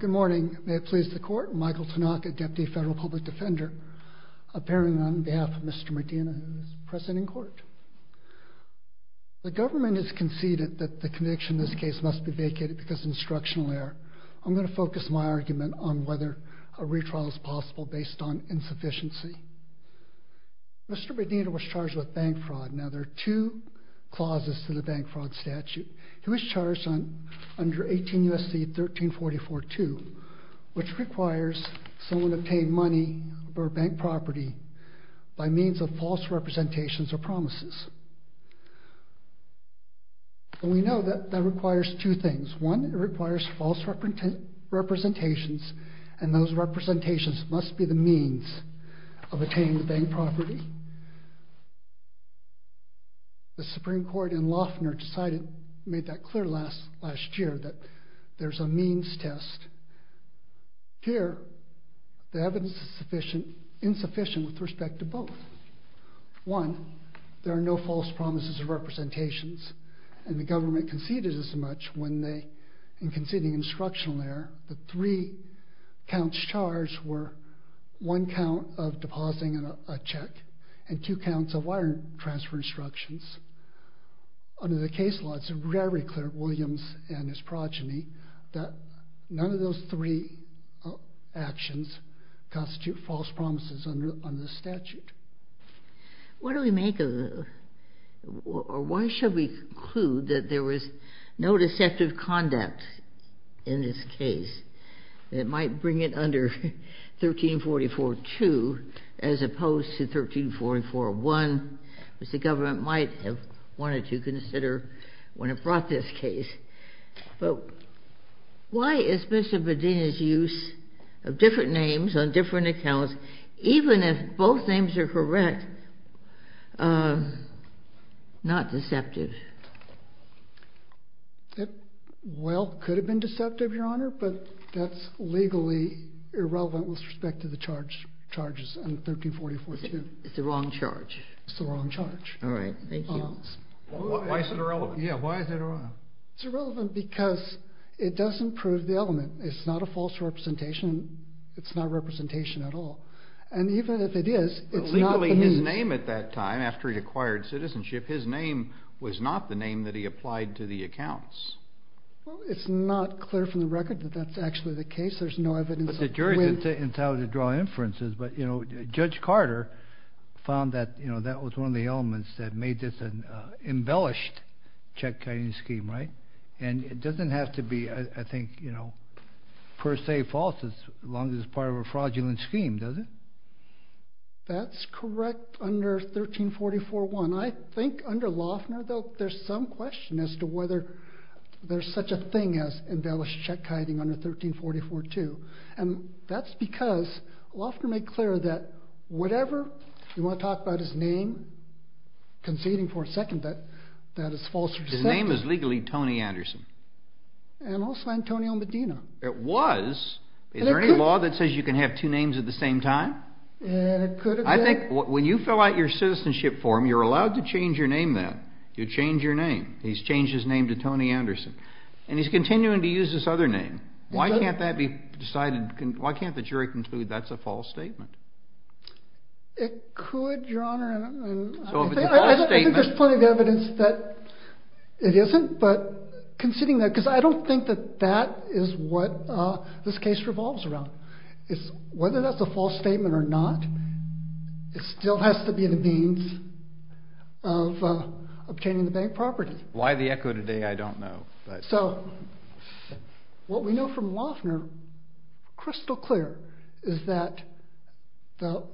Good morning. May it please the court, Michael Tanaka, Deputy Federal Public Defender, appearing on behalf of Mr. Medina, who is present in court. The government has conceded that the conviction in this case must be vacated because of instructional error. I'm going to focus my argument on whether a retrial is possible based on insufficiency. Mr. Medina was charged with bank fraud. Now there are two clauses to the bank fraud statute. He was charged under 18 U.S.C. 1344-2, which requires someone to obtain money or bank property by means of false representations or promises. We know that that requires two things. One, it requires false representations, and those representations must be the means of obtaining the bank property. The Supreme Court in Loeffner decided, made that clear last year, that there's a means test. Here, the evidence is insufficient with respect to both. One, there are no false promises of representations, and the government conceded as much when they, in conceding instructional error, the three counts charged were one count of depositing a check and two counts of wire transfer instructions. Under the case law, it's very clear to Williams and his progeny that none of those three actions constitute false promises under the statute. What do we make of the, or why should we conclude that there was no deceptive conduct in this case? It might bring it under 1344-2 as opposed to 1344-1, which the government might have wanted to consider when it brought this case. But why is Mr. Medina's use of the word correct, not deceptive? Well, it could have been deceptive, Your Honor, but that's legally irrelevant with respect to the charges under 1344-2. It's the wrong charge. It's the wrong charge. All right. Thank you. Why is it irrelevant? Yeah. Why is it irrelevant? It's irrelevant because it doesn't prove the element. It's not a false representation. Not only his name at that time, after he acquired citizenship, his name was not the name that he applied to the accounts. It's not clear from the record that that's actually the case. There's no evidence of when- But the jury's entitled to draw inferences, but Judge Carter found that that was one of the elements that made this an embellished check-kiting scheme, right? And it doesn't have to be, I think, per se false as long as it's part of a fraudulent scheme, does it? That's correct under 1344-1. I think under Loeffner, though, there's some question as to whether there's such a thing as embellished check-kiting under 1344-2. And that's because Loeffner made clear that whatever- You want to talk about his name? Conceding for a second that that is false- His name is legally Tony Anderson. And also Antonio Medina. It was. Is there any law that says you can have two names at the same time? And it could have been- I think when you fill out your citizenship form, you're allowed to change your name then. You change your name. He's changed his name to Tony Anderson. And he's continuing to use this other name. Why can't that be decided- Why can't the jury conclude that's a false statement? It could, Your Honor. I think there's plenty of evidence that it isn't, but conceding that- Because I don't think that that is what this case revolves around. Whether that's a false statement or not, it still has to be the means of obtaining the bank property. Why the echo today, I don't know. So what we know from Loeffner, crystal clear, is that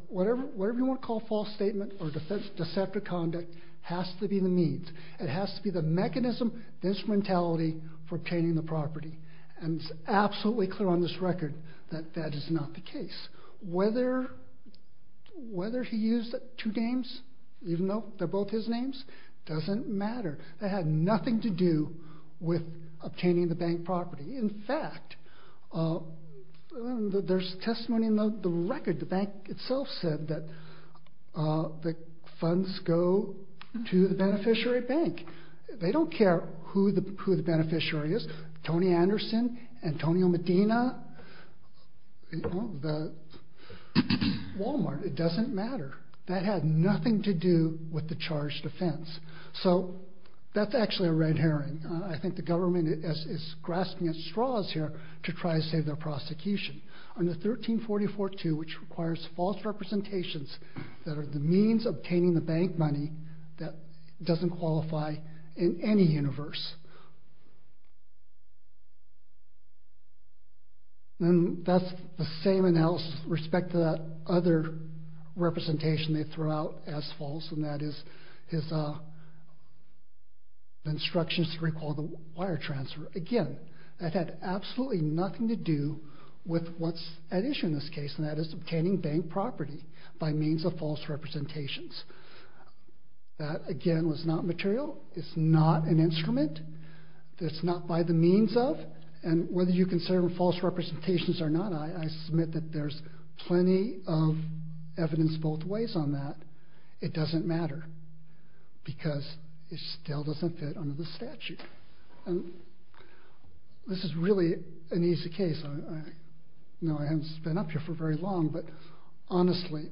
whatever you want to call a false statement or deceptive conduct has to be the means. It has to be the mechanism, the instrumentality for obtaining the property. And it's absolutely clear on this record that that is not the case. Whether he used two names, even though they're both his names, doesn't matter. That had nothing to do with obtaining the bank property. In fact, there's testimony in the record. The bank itself said that the funds go to the beneficiary bank. They don't care who the beneficiary is. Tony Anderson, Antonio Medina, Walmart, it doesn't matter. That had nothing to do with the charged offense. So that's actually a red herring. I think the government is grasping at straws here to try to save their prosecution. Under 1344-2, which requires false representations that are the means of obtaining the bank money that doesn't qualify in any universe. And that's the same analysis with respect to that other representation they threw out as false, and that is his instructions to recall the wire transfer. Again, that had absolutely nothing to do with what's at issue in this case. That, again, was not material. It's not an instrument. It's not by the means of. And whether you consider them false representations or not, I submit that there's plenty of evidence both ways on that. It doesn't matter because it still doesn't fit under the statute. This is really an easy case. I know I haven't been up here for very long, but honestly,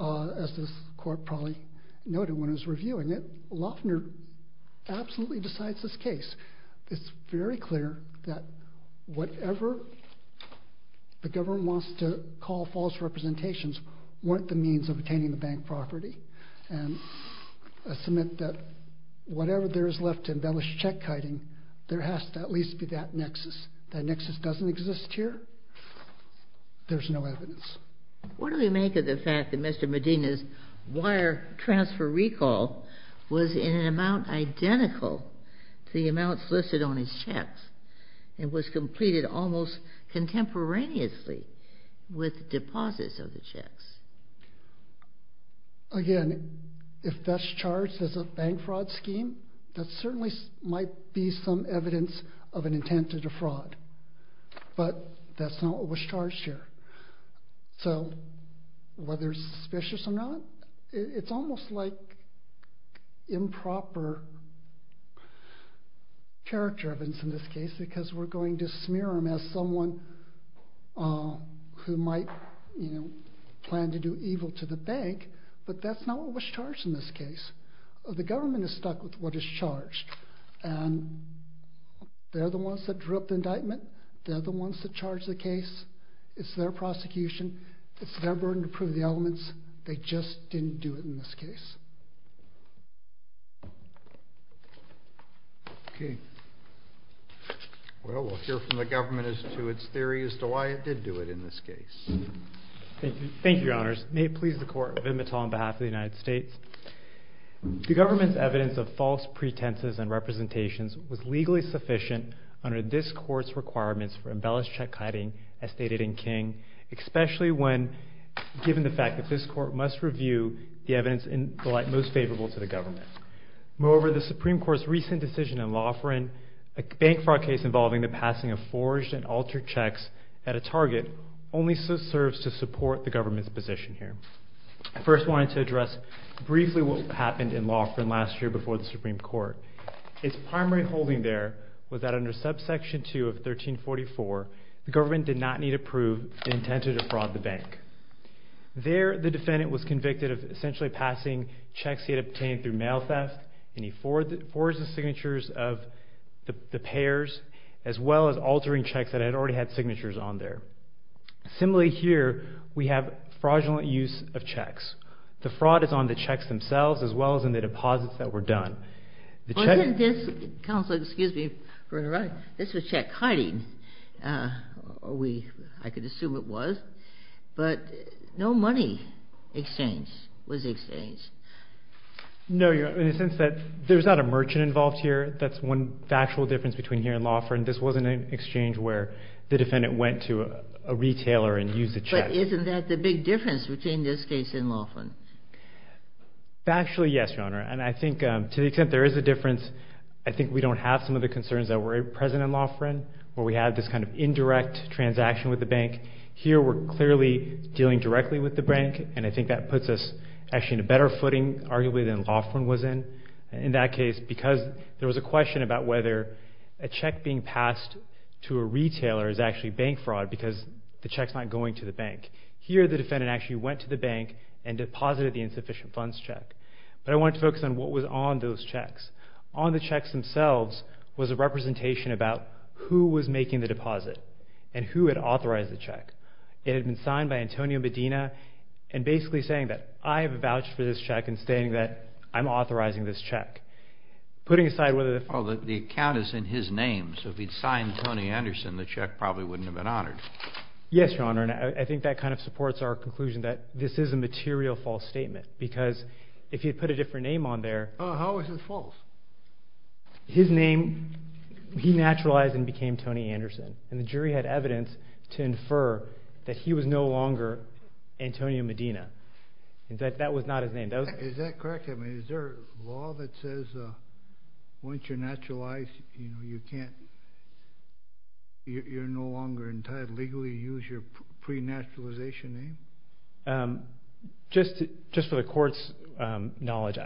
as this court probably noted when it was reviewing it, Loeffner absolutely decides this case. It's very clear that whatever the government wants to call false representations weren't the means of obtaining the bank property. And I submit that whatever there is left to embellish check-kiting, there has to at least be that nexus. That nexus doesn't exist here. There's no evidence. What do we make of the fact that Mr. Medina's wire transfer recall was in an amount identical to the amounts listed on his checks and was completed almost contemporaneously with deposits of the checks? Again, if that's charged as a bank fraud scheme, that certainly might be some So whether it's suspicious or not, it's almost like improper character evidence in this case because we're going to smear him as someone who might plan to do evil to the bank, but that's not what was charged in this case. The government is stuck with what is charged, and they're the ones that drew up the indictment. They're the ones that charge the case. It's their prosecution. It's their burden to prove the elements. They just didn't do it in this case. Okay. Well, we'll hear from the government as to its theory as to why it did do it in this case. Thank you. Thank you, your honors. May it please the court. Vinh Batal on behalf of the United States. The government's evidence of false pretenses and representations was legally sufficient under this court's requirements for embellished check hiding, as stated in King, especially given the fact that this court must review the evidence in the light most favorable to the government. Moreover, the Supreme Court's recent decision in Loughran, a bank fraud case involving the passing of forged and altered checks at a target, only serves to support the government's position here. I first wanted to address briefly what happened in Loughran last year before the Supreme Court. Its primary holding there was that under subsection 2 of 1344, the government did not need to prove the intent to defraud the bank. There, the defendant was convicted of essentially passing checks he had obtained through mail theft, and he forged the signatures of the payers, as well as altering checks that had already had signatures on there. Similarly here, we have fraudulent use of checks. The fraud is on the checks themselves, as well as in the deposits that were done. But isn't this, counsel, excuse me for interrupting, this was check hiding, I could assume it was, but no money exchange was exchanged. No, Your Honor, in the sense that there was not a merchant involved here. That's one factual difference between here and Loughran. This wasn't an exchange where the defendant went to a retailer and used a check. But isn't that the big difference between this case and Loughran? Actually, yes, Your Honor, and I think to the extent there is a difference, I think we don't have some of the concerns that were present in Loughran, where we had this kind of indirect transaction with the bank. Here, we're clearly dealing directly with the bank, and I think that puts us actually in a better footing, arguably, than Loughran was in. In that case, because there was a question about whether a check being passed to a retailer is actually bank fraud because the check's not going to the bank. Here, the defendant actually went to the bank and deposited the insufficient funds check, but I wanted to focus on what was on those checks. On the checks themselves was a representation about who was making the deposit and who had authorized the check. It had been signed by Antonio Medina and basically saying that, I have a vouch for this check and stating that I'm authorizing this check. Putting aside whether the... Well, the account is in his name, so if he'd signed Tony Anderson, the check probably wouldn't have been honored. Yes, Your Honor, and I think that kind of supports our conclusion that this is a material false statement because if you'd put a different name on there... How is it false? His name, he naturalized and became Tony Anderson, and the jury had evidence to infer that he was no longer Antonio Medina. That was not his name. Is that correct? I mean, is there a law that says once you're naturalized, you can't... legally use your pre-naturalization name? Just for the court's knowledge,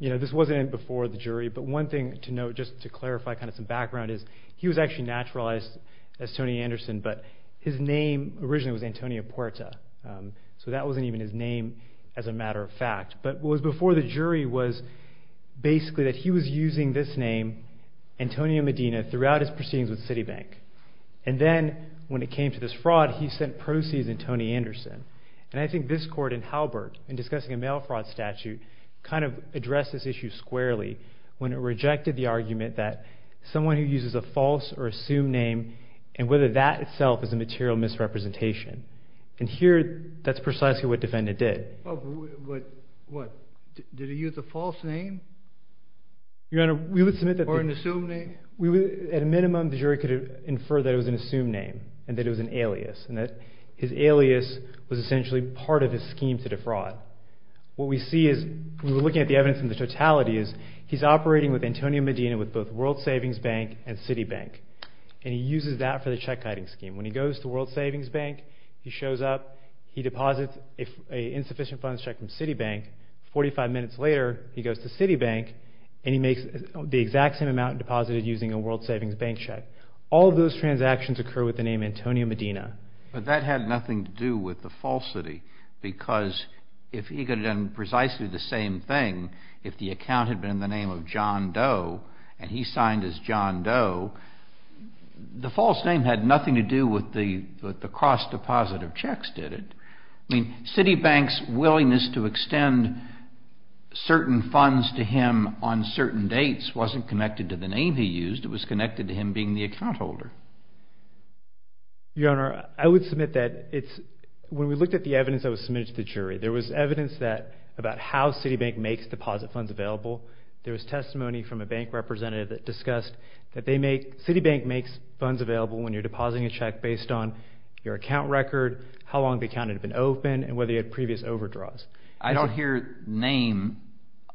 this wasn't before the jury, but one thing to note just to clarify kind of some background is he was actually naturalized as Tony Anderson, but his name originally was Antonio Puerta, so that wasn't even his name as a matter of fact, but what was before the jury was basically that he was using this name, Antonio Medina, throughout his proceedings with Citibank, and then when it came to this fraud, he sent proceeds in Tony Anderson, and I think this court in Halbert in discussing a mail fraud statute kind of addressed this issue squarely when it rejected the argument that someone who uses a false or assumed name and whether that itself is a material misrepresentation, and here, that's precisely what defendant did. But what? Did he use a false name? Your Honor, we would submit that... At a minimum, the jury could infer that it was an assumed name and that it was an alias, and that his alias was essentially part of his scheme to defraud. What we see is, we were looking at the evidence in the totality, is he's operating with Antonio Medina with both World Savings Bank and Citibank, and he uses that for the check-hiding scheme. When he goes to World Savings Bank, he shows up, he deposits an insufficient funds check from Citibank, 45 minutes later, he goes to Citibank, and he makes the exact same amount deposited using a World Savings Bank check. All of those transactions occur with the name Antonio Medina. But that had nothing to do with the falsity, because if he could have done precisely the same thing, if the account had been in the name of John Doe, and he signed as John Doe, the false name had nothing to do with the cross-depositive checks, did it? I mean, Citibank's willingness to extend certain funds to him on certain dates wasn't connected to the name he used, it was connected to him being the account holder. Your Honor, I would submit that it's, when we looked at the evidence that was submitted to the jury, there was evidence that, about how Citibank makes deposit funds available, there was testimony from a bank representative that discussed that they make, Citibank makes funds available when you're depositing a check based on your account record, how long the account had been open, and whether you had previous overdraws. I don't hear name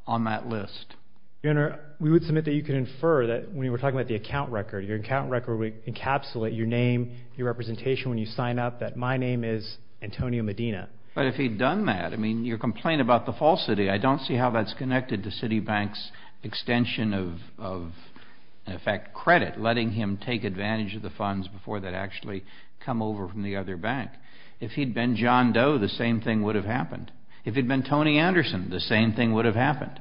on that list. Your Honor, we would submit that you could infer that, when you were talking about the account record, your account record would encapsulate your name, your representation when you sign up, that my name is Antonio Medina. But if he'd done that, I mean, your complaint about the falsity, I don't see how that's connected to Citibank's extension of, in effect, credit, letting him take advantage of the funds before they'd actually come over from the other bank. If he'd been John Doe, the same thing would have happened. If he'd been Tony Anderson, the same thing would have happened.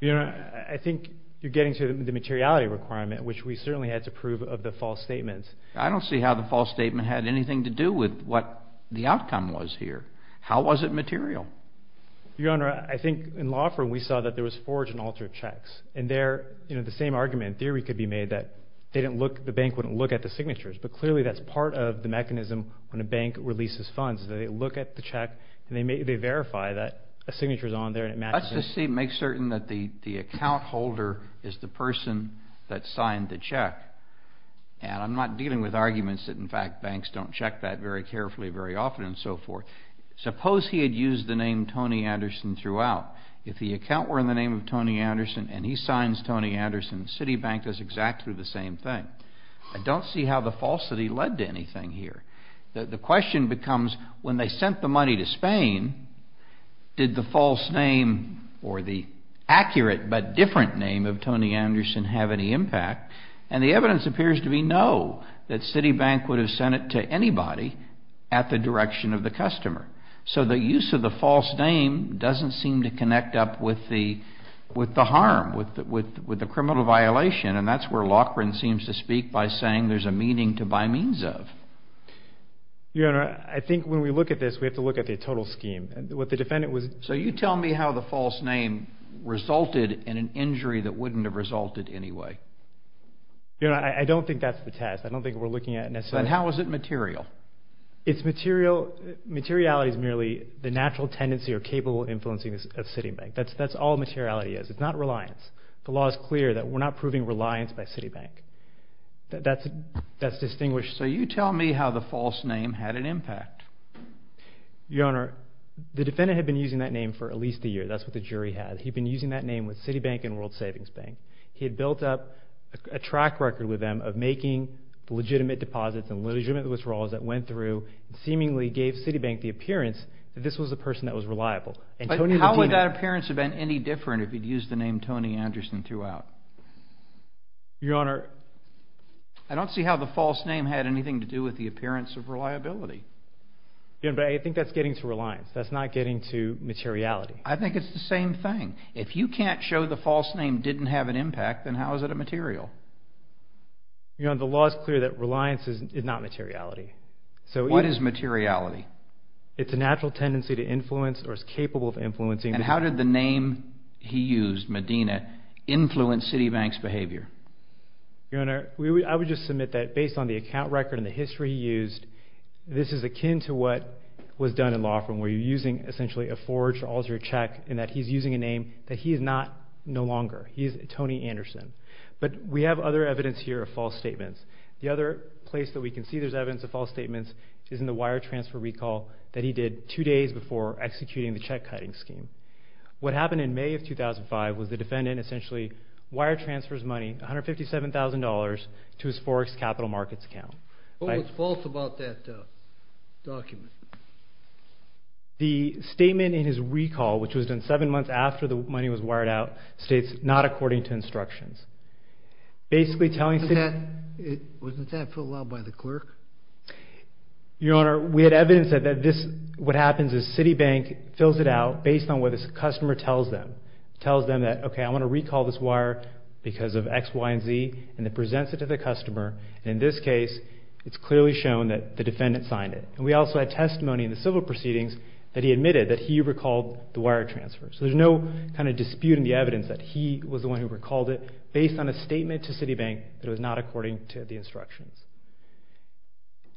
Your Honor, I think you're getting to the materiality requirement, which we certainly had to prove of the false statements. I don't see how the false statement had anything to do with what the outcome was here. How was it material? Your Honor, I think in law firm, we saw that there was forged and altered checks. And there, you know, the same argument in theory could be made that they didn't look, the bank wouldn't look at the signatures. But clearly, that's part of the mechanism when a bank releases funds, that they look at the check and they verify that a signature's on there and it matches. Let's just make certain that the account holder is the person that signed the check. And I'm not dealing with arguments that, in fact, banks don't check that very carefully very often and so forth. Suppose he had used the name Tony Anderson throughout. If the account were in the name of Tony Anderson and he signs Tony Anderson, Citibank does exactly the same thing. I don't see how the falsity led to anything here. The question becomes when they sent the money to Spain, did the false name or the accurate but different name of Tony Anderson have any impact? And the evidence appears to be no, that Citibank would have sent it to anybody at the direction of the customer. So the use of the false name doesn't seem to connect up with the harm, with the criminal violation, and that's where Loughran seems to speak by saying there's a meaning to by Your Honor, I think when we look at this, we have to look at the total scheme. What the defendant was... So you tell me how the false name resulted in an injury that wouldn't have resulted anyway. Your Honor, I don't think that's the test. I don't think we're looking at necessarily... Then how is it material? It's material... materiality is merely the natural tendency or capable of influencing the Citibank. That's all materiality is. It's not reliance. The law is clear that we're not proving reliance by Citibank. That's distinguished... So you tell me how the false name had an impact. Your Honor, the defendant had been using that name for at least a year. That's what the jury had. He'd been using that name with Citibank and World Savings Bank. He had built up a track record with them of making legitimate deposits and legitimate withdrawals that went through and seemingly gave Citibank the appearance that this was the person that was reliable. And Tony... But how would that appearance have been any different if he'd used the name Tony Anderson throughout? Your Honor... I don't see how the false name had anything to do with the appearance of reliability. But I think that's getting to reliance. That's not getting to materiality. I think it's the same thing. If you can't show the false name didn't have an impact, then how is it a material? Your Honor, the law is clear that reliance is not materiality. What is materiality? It's a natural tendency to influence or is capable of influencing... And how did the name he used, Medina, influence Citibank's behavior? Your Honor, I would just submit that based on the account record and the history he used, this is akin to what was done in Laughlin where you're using essentially a forged or altered check and that he's using a name that he is not no longer. He is Tony Anderson. But we have other evidence here of false statements. The other place that we can see there's evidence of false statements is in the wire transfer recall that he did two days before executing the check cutting scheme. What happened in May of 2005 was the defendant essentially wire transfers money, $157,000, to his Forex Capital Markets account. What was false about that document? The statement in his recall, which was done seven months after the money was wired out, states, not according to instructions. Wasn't that filled out by the clerk? Your Honor, we had evidence that what happens is Citibank fills it out based on what the customer tells them. It tells them that, okay, I want to recall this wire because of X, Y, and Z, and it presents it to the customer. In this case, it's clearly shown that the defendant signed it. And we also had testimony in the civil proceedings that he admitted that he recalled the wire transfer. So there's no kind of dispute in the evidence that he was the one who recalled it based on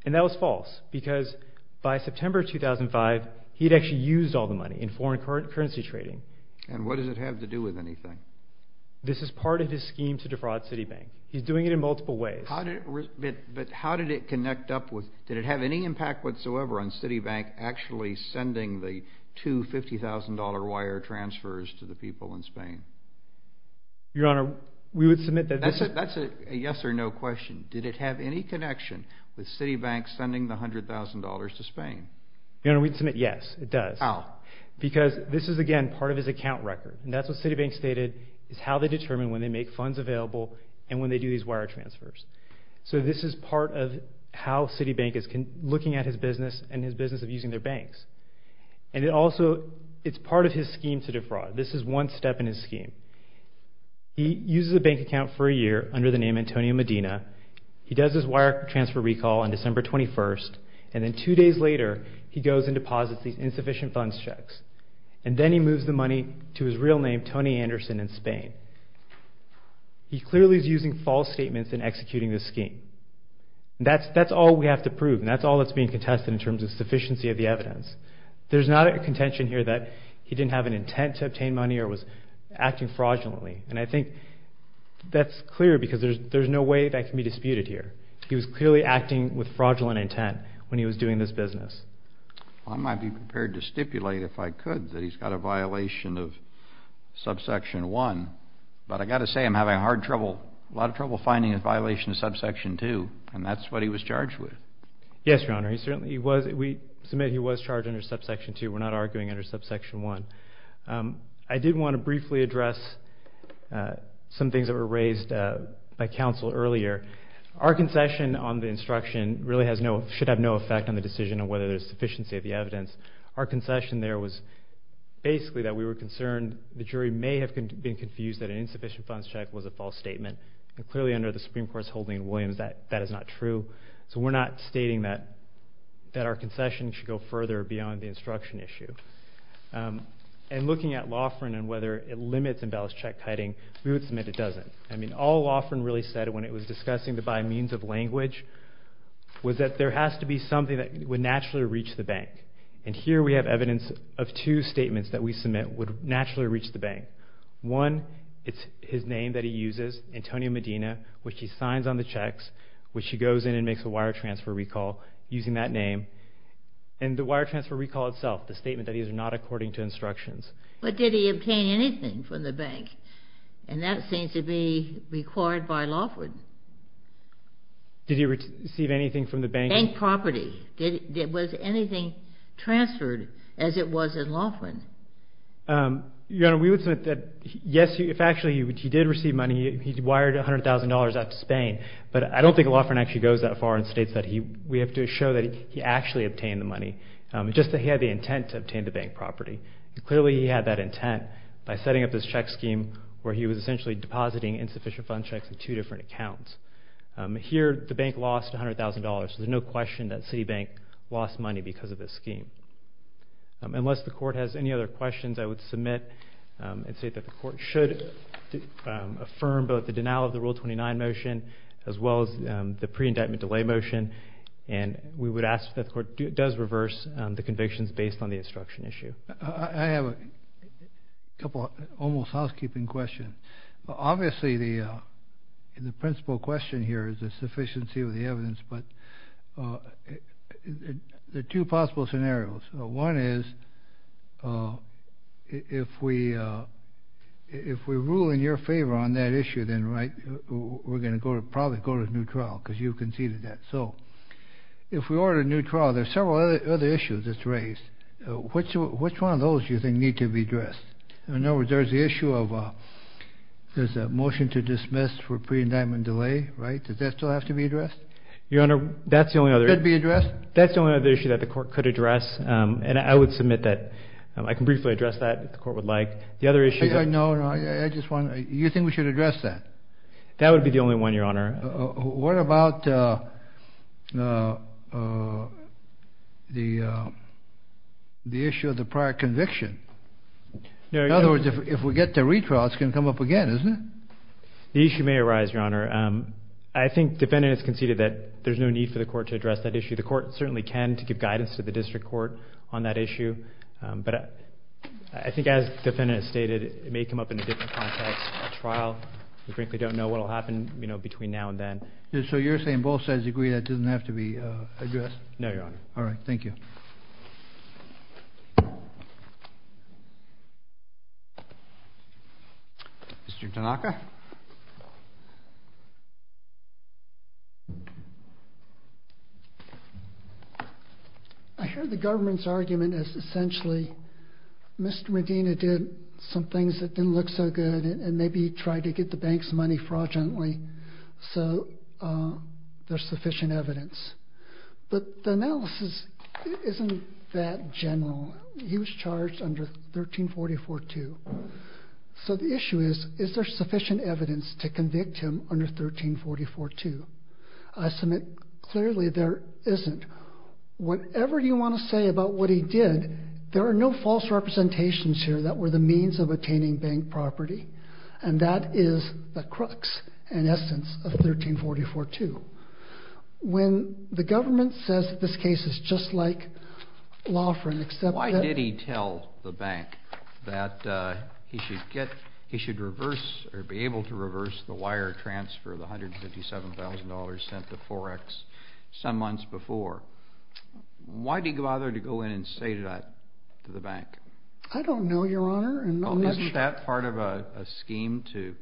And that was false because by September 2005, he had actually used all the money in foreign currency trading. And what does it have to do with anything? This is part of his scheme to defraud Citibank. He's doing it in multiple ways. But how did it connect up with, did it have any impact whatsoever on Citibank actually sending the two $50,000 wire transfers to the people in Spain? Your Honor, we would submit that this is That's a yes or no question. Did it have any connection with Citibank sending the $100,000 to Spain? Your Honor, we'd submit yes, it does. How? Because this is, again, part of his account record. And that's what Citibank stated is how they determine when they make funds available and when they do these wire transfers. So this is part of how Citibank is looking at his business and his business of using their banks. And it also, it's part of his scheme to defraud. This is one step in his scheme. He uses a bank account for a year under the name Antonio Medina. He does his wire transfer recall on December 21st. And then two days later, he goes and deposits these insufficient funds checks. And then he moves the money to his real name, Tony Anderson, in Spain. He clearly is using false statements in executing this scheme. That's all we have to prove, and that's all that's being contested in terms of sufficiency of the evidence. There's not a contention here that he didn't have an intent to obtain money or was acting fraudulently. And I think that's clear because there's no way that can be disputed here. He was clearly acting with fraudulent intent when he was doing this business. I might be prepared to stipulate, if I could, that he's got a violation of subsection 1. But I've got to say I'm having a lot of trouble finding a violation of subsection 2, and that's what he was charged with. Yes, Your Honor. We submit he was charged under subsection 2. We're not arguing under subsection 1. I did want to briefly address some things that were raised by counsel earlier. Our concession on the instruction really should have no effect on the decision on whether there's sufficiency of the evidence. Our concession there was basically that we were concerned the jury may have been confused that an insufficient funds check was a false statement. Clearly, under the Supreme Court's holding in Williams, that is not true. So we're not stating that our concession should go further beyond the instruction issue. And looking at Laughrin and whether it limits embellished check hiding, we would submit it doesn't. I mean, all Laughrin really said when it was discussing the by means of language was that there has to be something that would naturally reach the bank. And here we have evidence of two statements that we submit would naturally reach the bank. One, it's his name that he uses, Antonio Medina, which he signs on the checks, which he goes in and makes a wire transfer recall using that name. And the wire transfer recall itself, the statement that he is not according to instructions. But did he obtain anything from the bank? And that seems to be required by Laughrin. Did he receive anything from the bank? Bank property. Was anything transferred as it was in Laughrin? Your Honor, we would submit that yes, if actually he did receive money, I mean, he wired $100,000 out to Spain, but I don't think Laughrin actually goes that far and states that we have to show that he actually obtained the money, just that he had the intent to obtain the bank property. Clearly he had that intent by setting up this check scheme where he was essentially depositing insufficient fund checks in two different accounts. Here the bank lost $100,000, so there's no question that Citibank lost money because of this scheme. Unless the Court has any other questions, I would submit and say that the Court should affirm both the denial of the Rule 29 motion as well as the pre-indictment delay motion, and we would ask that the Court does reverse the convictions based on the instruction issue. I have a couple of almost housekeeping questions. Obviously the principal question here is the sufficiency of the evidence, but there are two possible scenarios. One is if we rule in your favor on that issue, then we're going to probably go to a new trial because you conceded that. So if we order a new trial, there are several other issues that's raised. Which one of those do you think need to be addressed? In other words, there's the issue of there's a motion to dismiss for pre-indictment delay, right? Does that still have to be addressed? Your Honor, that's the only other issue that the Court could address, and I would submit that I can briefly address that if the Court would like. No, no, you think we should address that? That would be the only one, Your Honor. What about the issue of the prior conviction? In other words, if we get to retrial, it's going to come up again, isn't it? The issue may arise, Your Honor. I think the defendant has conceded that there's no need for the Court to address that issue. The Court certainly can to give guidance to the district court on that issue. But I think as the defendant has stated, it may come up in a different context, a trial. We frankly don't know what will happen between now and then. So you're saying both sides agree that it doesn't have to be addressed? No, Your Honor. All right, thank you. Thank you. Mr. Tanaka. I heard the government's argument as essentially Mr. Medina did some things that didn't look so good and maybe tried to get the bank's money fraudulently, so there's sufficient evidence. But the analysis isn't that general. He was charged under 1344-2. So the issue is, is there sufficient evidence to convict him under 1344-2? I submit clearly there isn't. Whatever you want to say about what he did, there are no false representations here that were the means of attaining bank property, and that is the crux and essence of 1344-2. When the government says this case is just like law for an accepted... Why did he tell the bank that he should reverse or be able to reverse the wire transfer of the $157,000 sent to Forex some months before? Why did he bother to go in and say that to the bank? I don't know, Your Honor. Well, isn't that part of a scheme to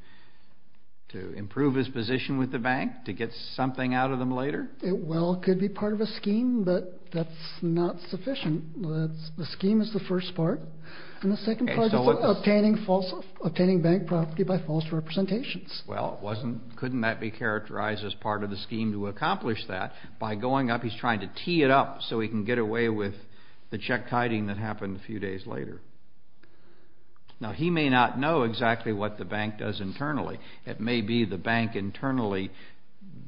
improve his position with the bank, to get something out of them later? Well, it could be part of a scheme, but that's not sufficient. The scheme is the first part, and the second part is obtaining bank property by false representations. Well, couldn't that be characterized as part of the scheme to accomplish that? By going up, he's trying to tee it up so he can get away with the check-kiting that happened a few days later. Now, he may not know exactly what the bank does internally. It may be the bank internally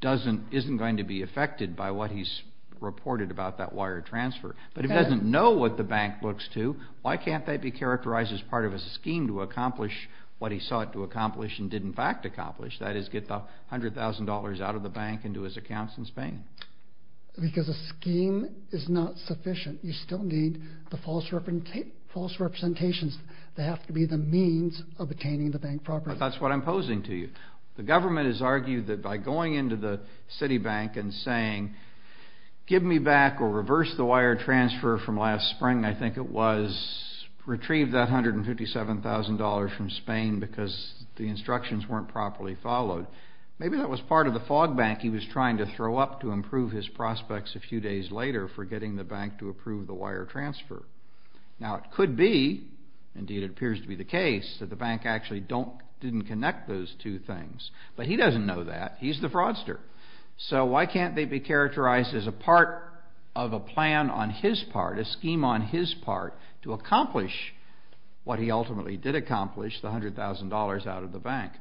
isn't going to be affected by what he's reported about that wire transfer. But if he doesn't know what the bank looks to, why can't that be characterized as part of a scheme to accomplish what he sought to accomplish and did in fact accomplish, that is, get the $100,000 out of the bank and do his accounts in Spain? Because a scheme is not sufficient. You still need the false representations. They have to be the means of obtaining the bank property. But that's what I'm posing to you. The government has argued that by going into the Citibank and saying, give me back or reverse the wire transfer from last spring, I think it was retrieve that $157,000 from Spain because the instructions weren't properly followed. Maybe that was part of the fog bank he was trying to throw up to improve his prospects a few days later for getting the bank to approve the wire transfer. Now, it could be, indeed it appears to be the case, that the bank actually didn't connect those two things. But he doesn't know that. He's the fraudster. So why can't they be characterized as a part of a plan on his part, a scheme on his part to accomplish what he ultimately did accomplish, the $100,000 out of the bank?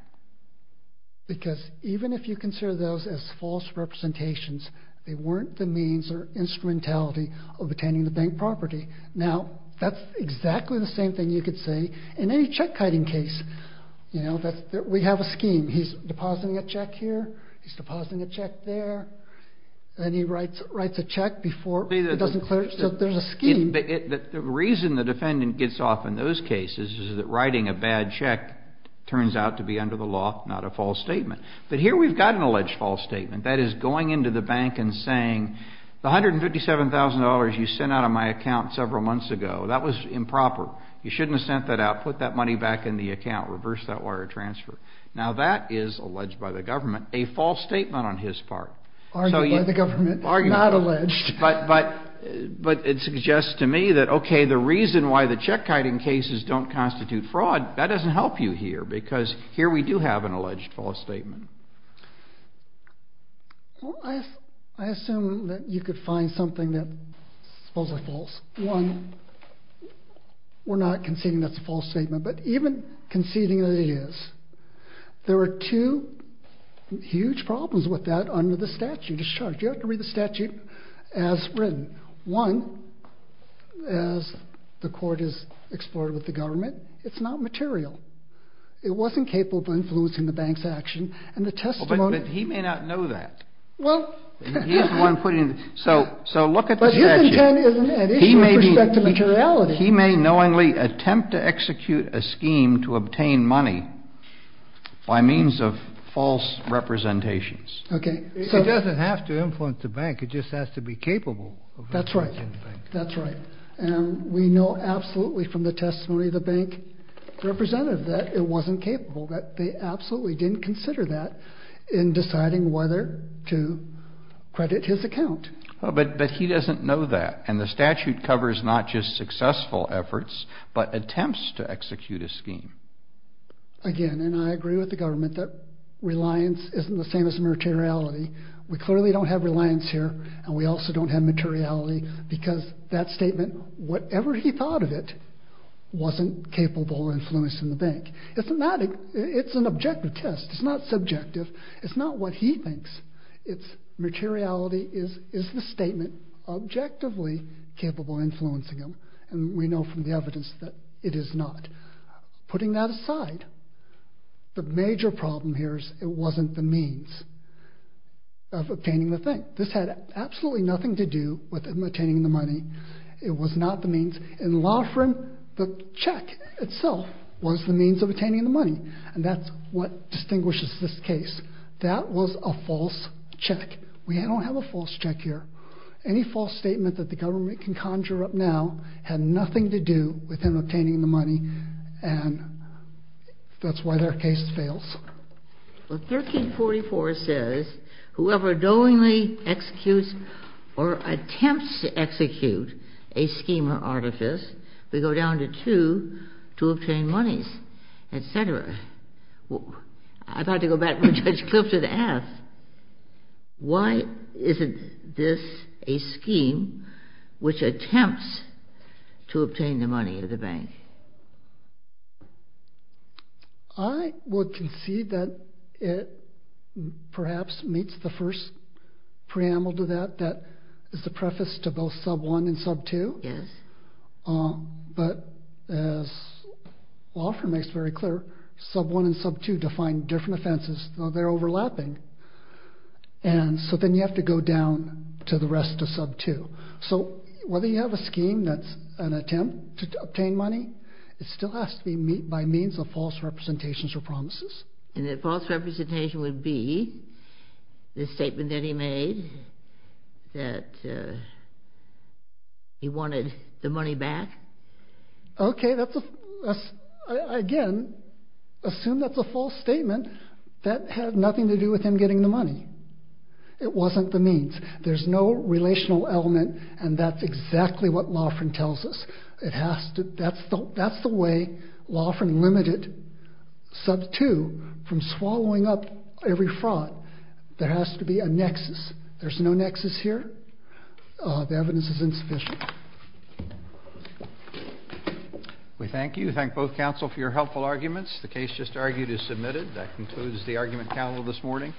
Because even if you consider those as false representations, they weren't the means or instrumentality of obtaining the bank property. Now, that's exactly the same thing you could say in any check-kiting case. We have a scheme. He's depositing a check here. He's depositing a check there. Then he writes a check before it doesn't clear. So there's a scheme. The reason the defendant gets off in those cases is that writing a bad check turns out to be under the law, not a false statement. But here we've got an alleged false statement. That is, going into the bank and saying, the $157,000 you sent out of my account several months ago, that was improper. You shouldn't have sent that out. Put that money back in the account. Reverse that wire transfer. Now, that is alleged by the government, a false statement on his part. Argued by the government, not alleged. But it suggests to me that, okay, the reason why the check-kiting cases don't constitute fraud, that doesn't help you here because here we do have an alleged false statement. Well, I assume that you could find something that's supposedly false. One, we're not conceding that's a false statement. But even conceding that it is, there are two huge problems with that under the statute of charge. You have to read the statute as written. One, as the court has explored with the government, it's not material. It wasn't capable of influencing the bank's action, and the testimony... But he may not know that. Well... He's the one putting... So look at the statute. But his intent is an issue with respect to materiality. He may knowingly attempt to execute a scheme to obtain money by means of false representations. Okay. It doesn't have to influence the bank. It just has to be capable of influencing the bank. That's right. And we know absolutely from the testimony of the bank representative that it wasn't capable, that they absolutely didn't consider that in deciding whether to credit his account. But he doesn't know that. And the statute covers not just successful efforts, but attempts to execute a scheme. Again, and I agree with the government that reliance isn't the same as materiality. We clearly don't have reliance here, and we also don't have materiality, because that statement, whatever he thought of it, wasn't capable of influencing the bank. It's an objective test. It's not subjective. It's not what he thinks. It's materiality is the statement objectively capable of influencing him. And we know from the evidence that it is not. Putting that aside, the major problem here is it wasn't the means of obtaining the thing. This had absolutely nothing to do with him obtaining the money. It was not the means. In Loughran, the check itself was the means of obtaining the money, and that's what distinguishes this case. That was a false check. We don't have a false check here. Any false statement that the government can conjure up now had nothing to do with him obtaining the money, and that's why their case fails. Well, 1344 says, whoever knowingly executes or attempts to execute a scheme or artifice, we go down to two to obtain monies, et cetera. I'd like to go back to Judge Clifton and ask, why isn't this a scheme which attempts to obtain the money of the bank? I would concede that it perhaps meets the first preamble to that, that is the preface to both sub 1 and sub 2. Yes. But as Loughran makes very clear, sub 1 and sub 2 define different offenses, though they're overlapping, and so then you have to go down to the rest of sub 2. So whether you have a scheme that's an attempt to obtain money, it still has to be by means of false representations or promises. And that false representation would be the statement that he made that he wanted the money back? OK, again, assume that's a false statement. That had nothing to do with him getting the money. It wasn't the means. There's no relational element, and that's exactly what Loughran tells us. That's the way Loughran limited sub 2 from swallowing up every fraud. There has to be a nexus. There's no nexus here. The evidence is insufficient. We thank you. Thank both counsel for your helpful arguments. The case just argued is submitted. That concludes the argument panel this morning.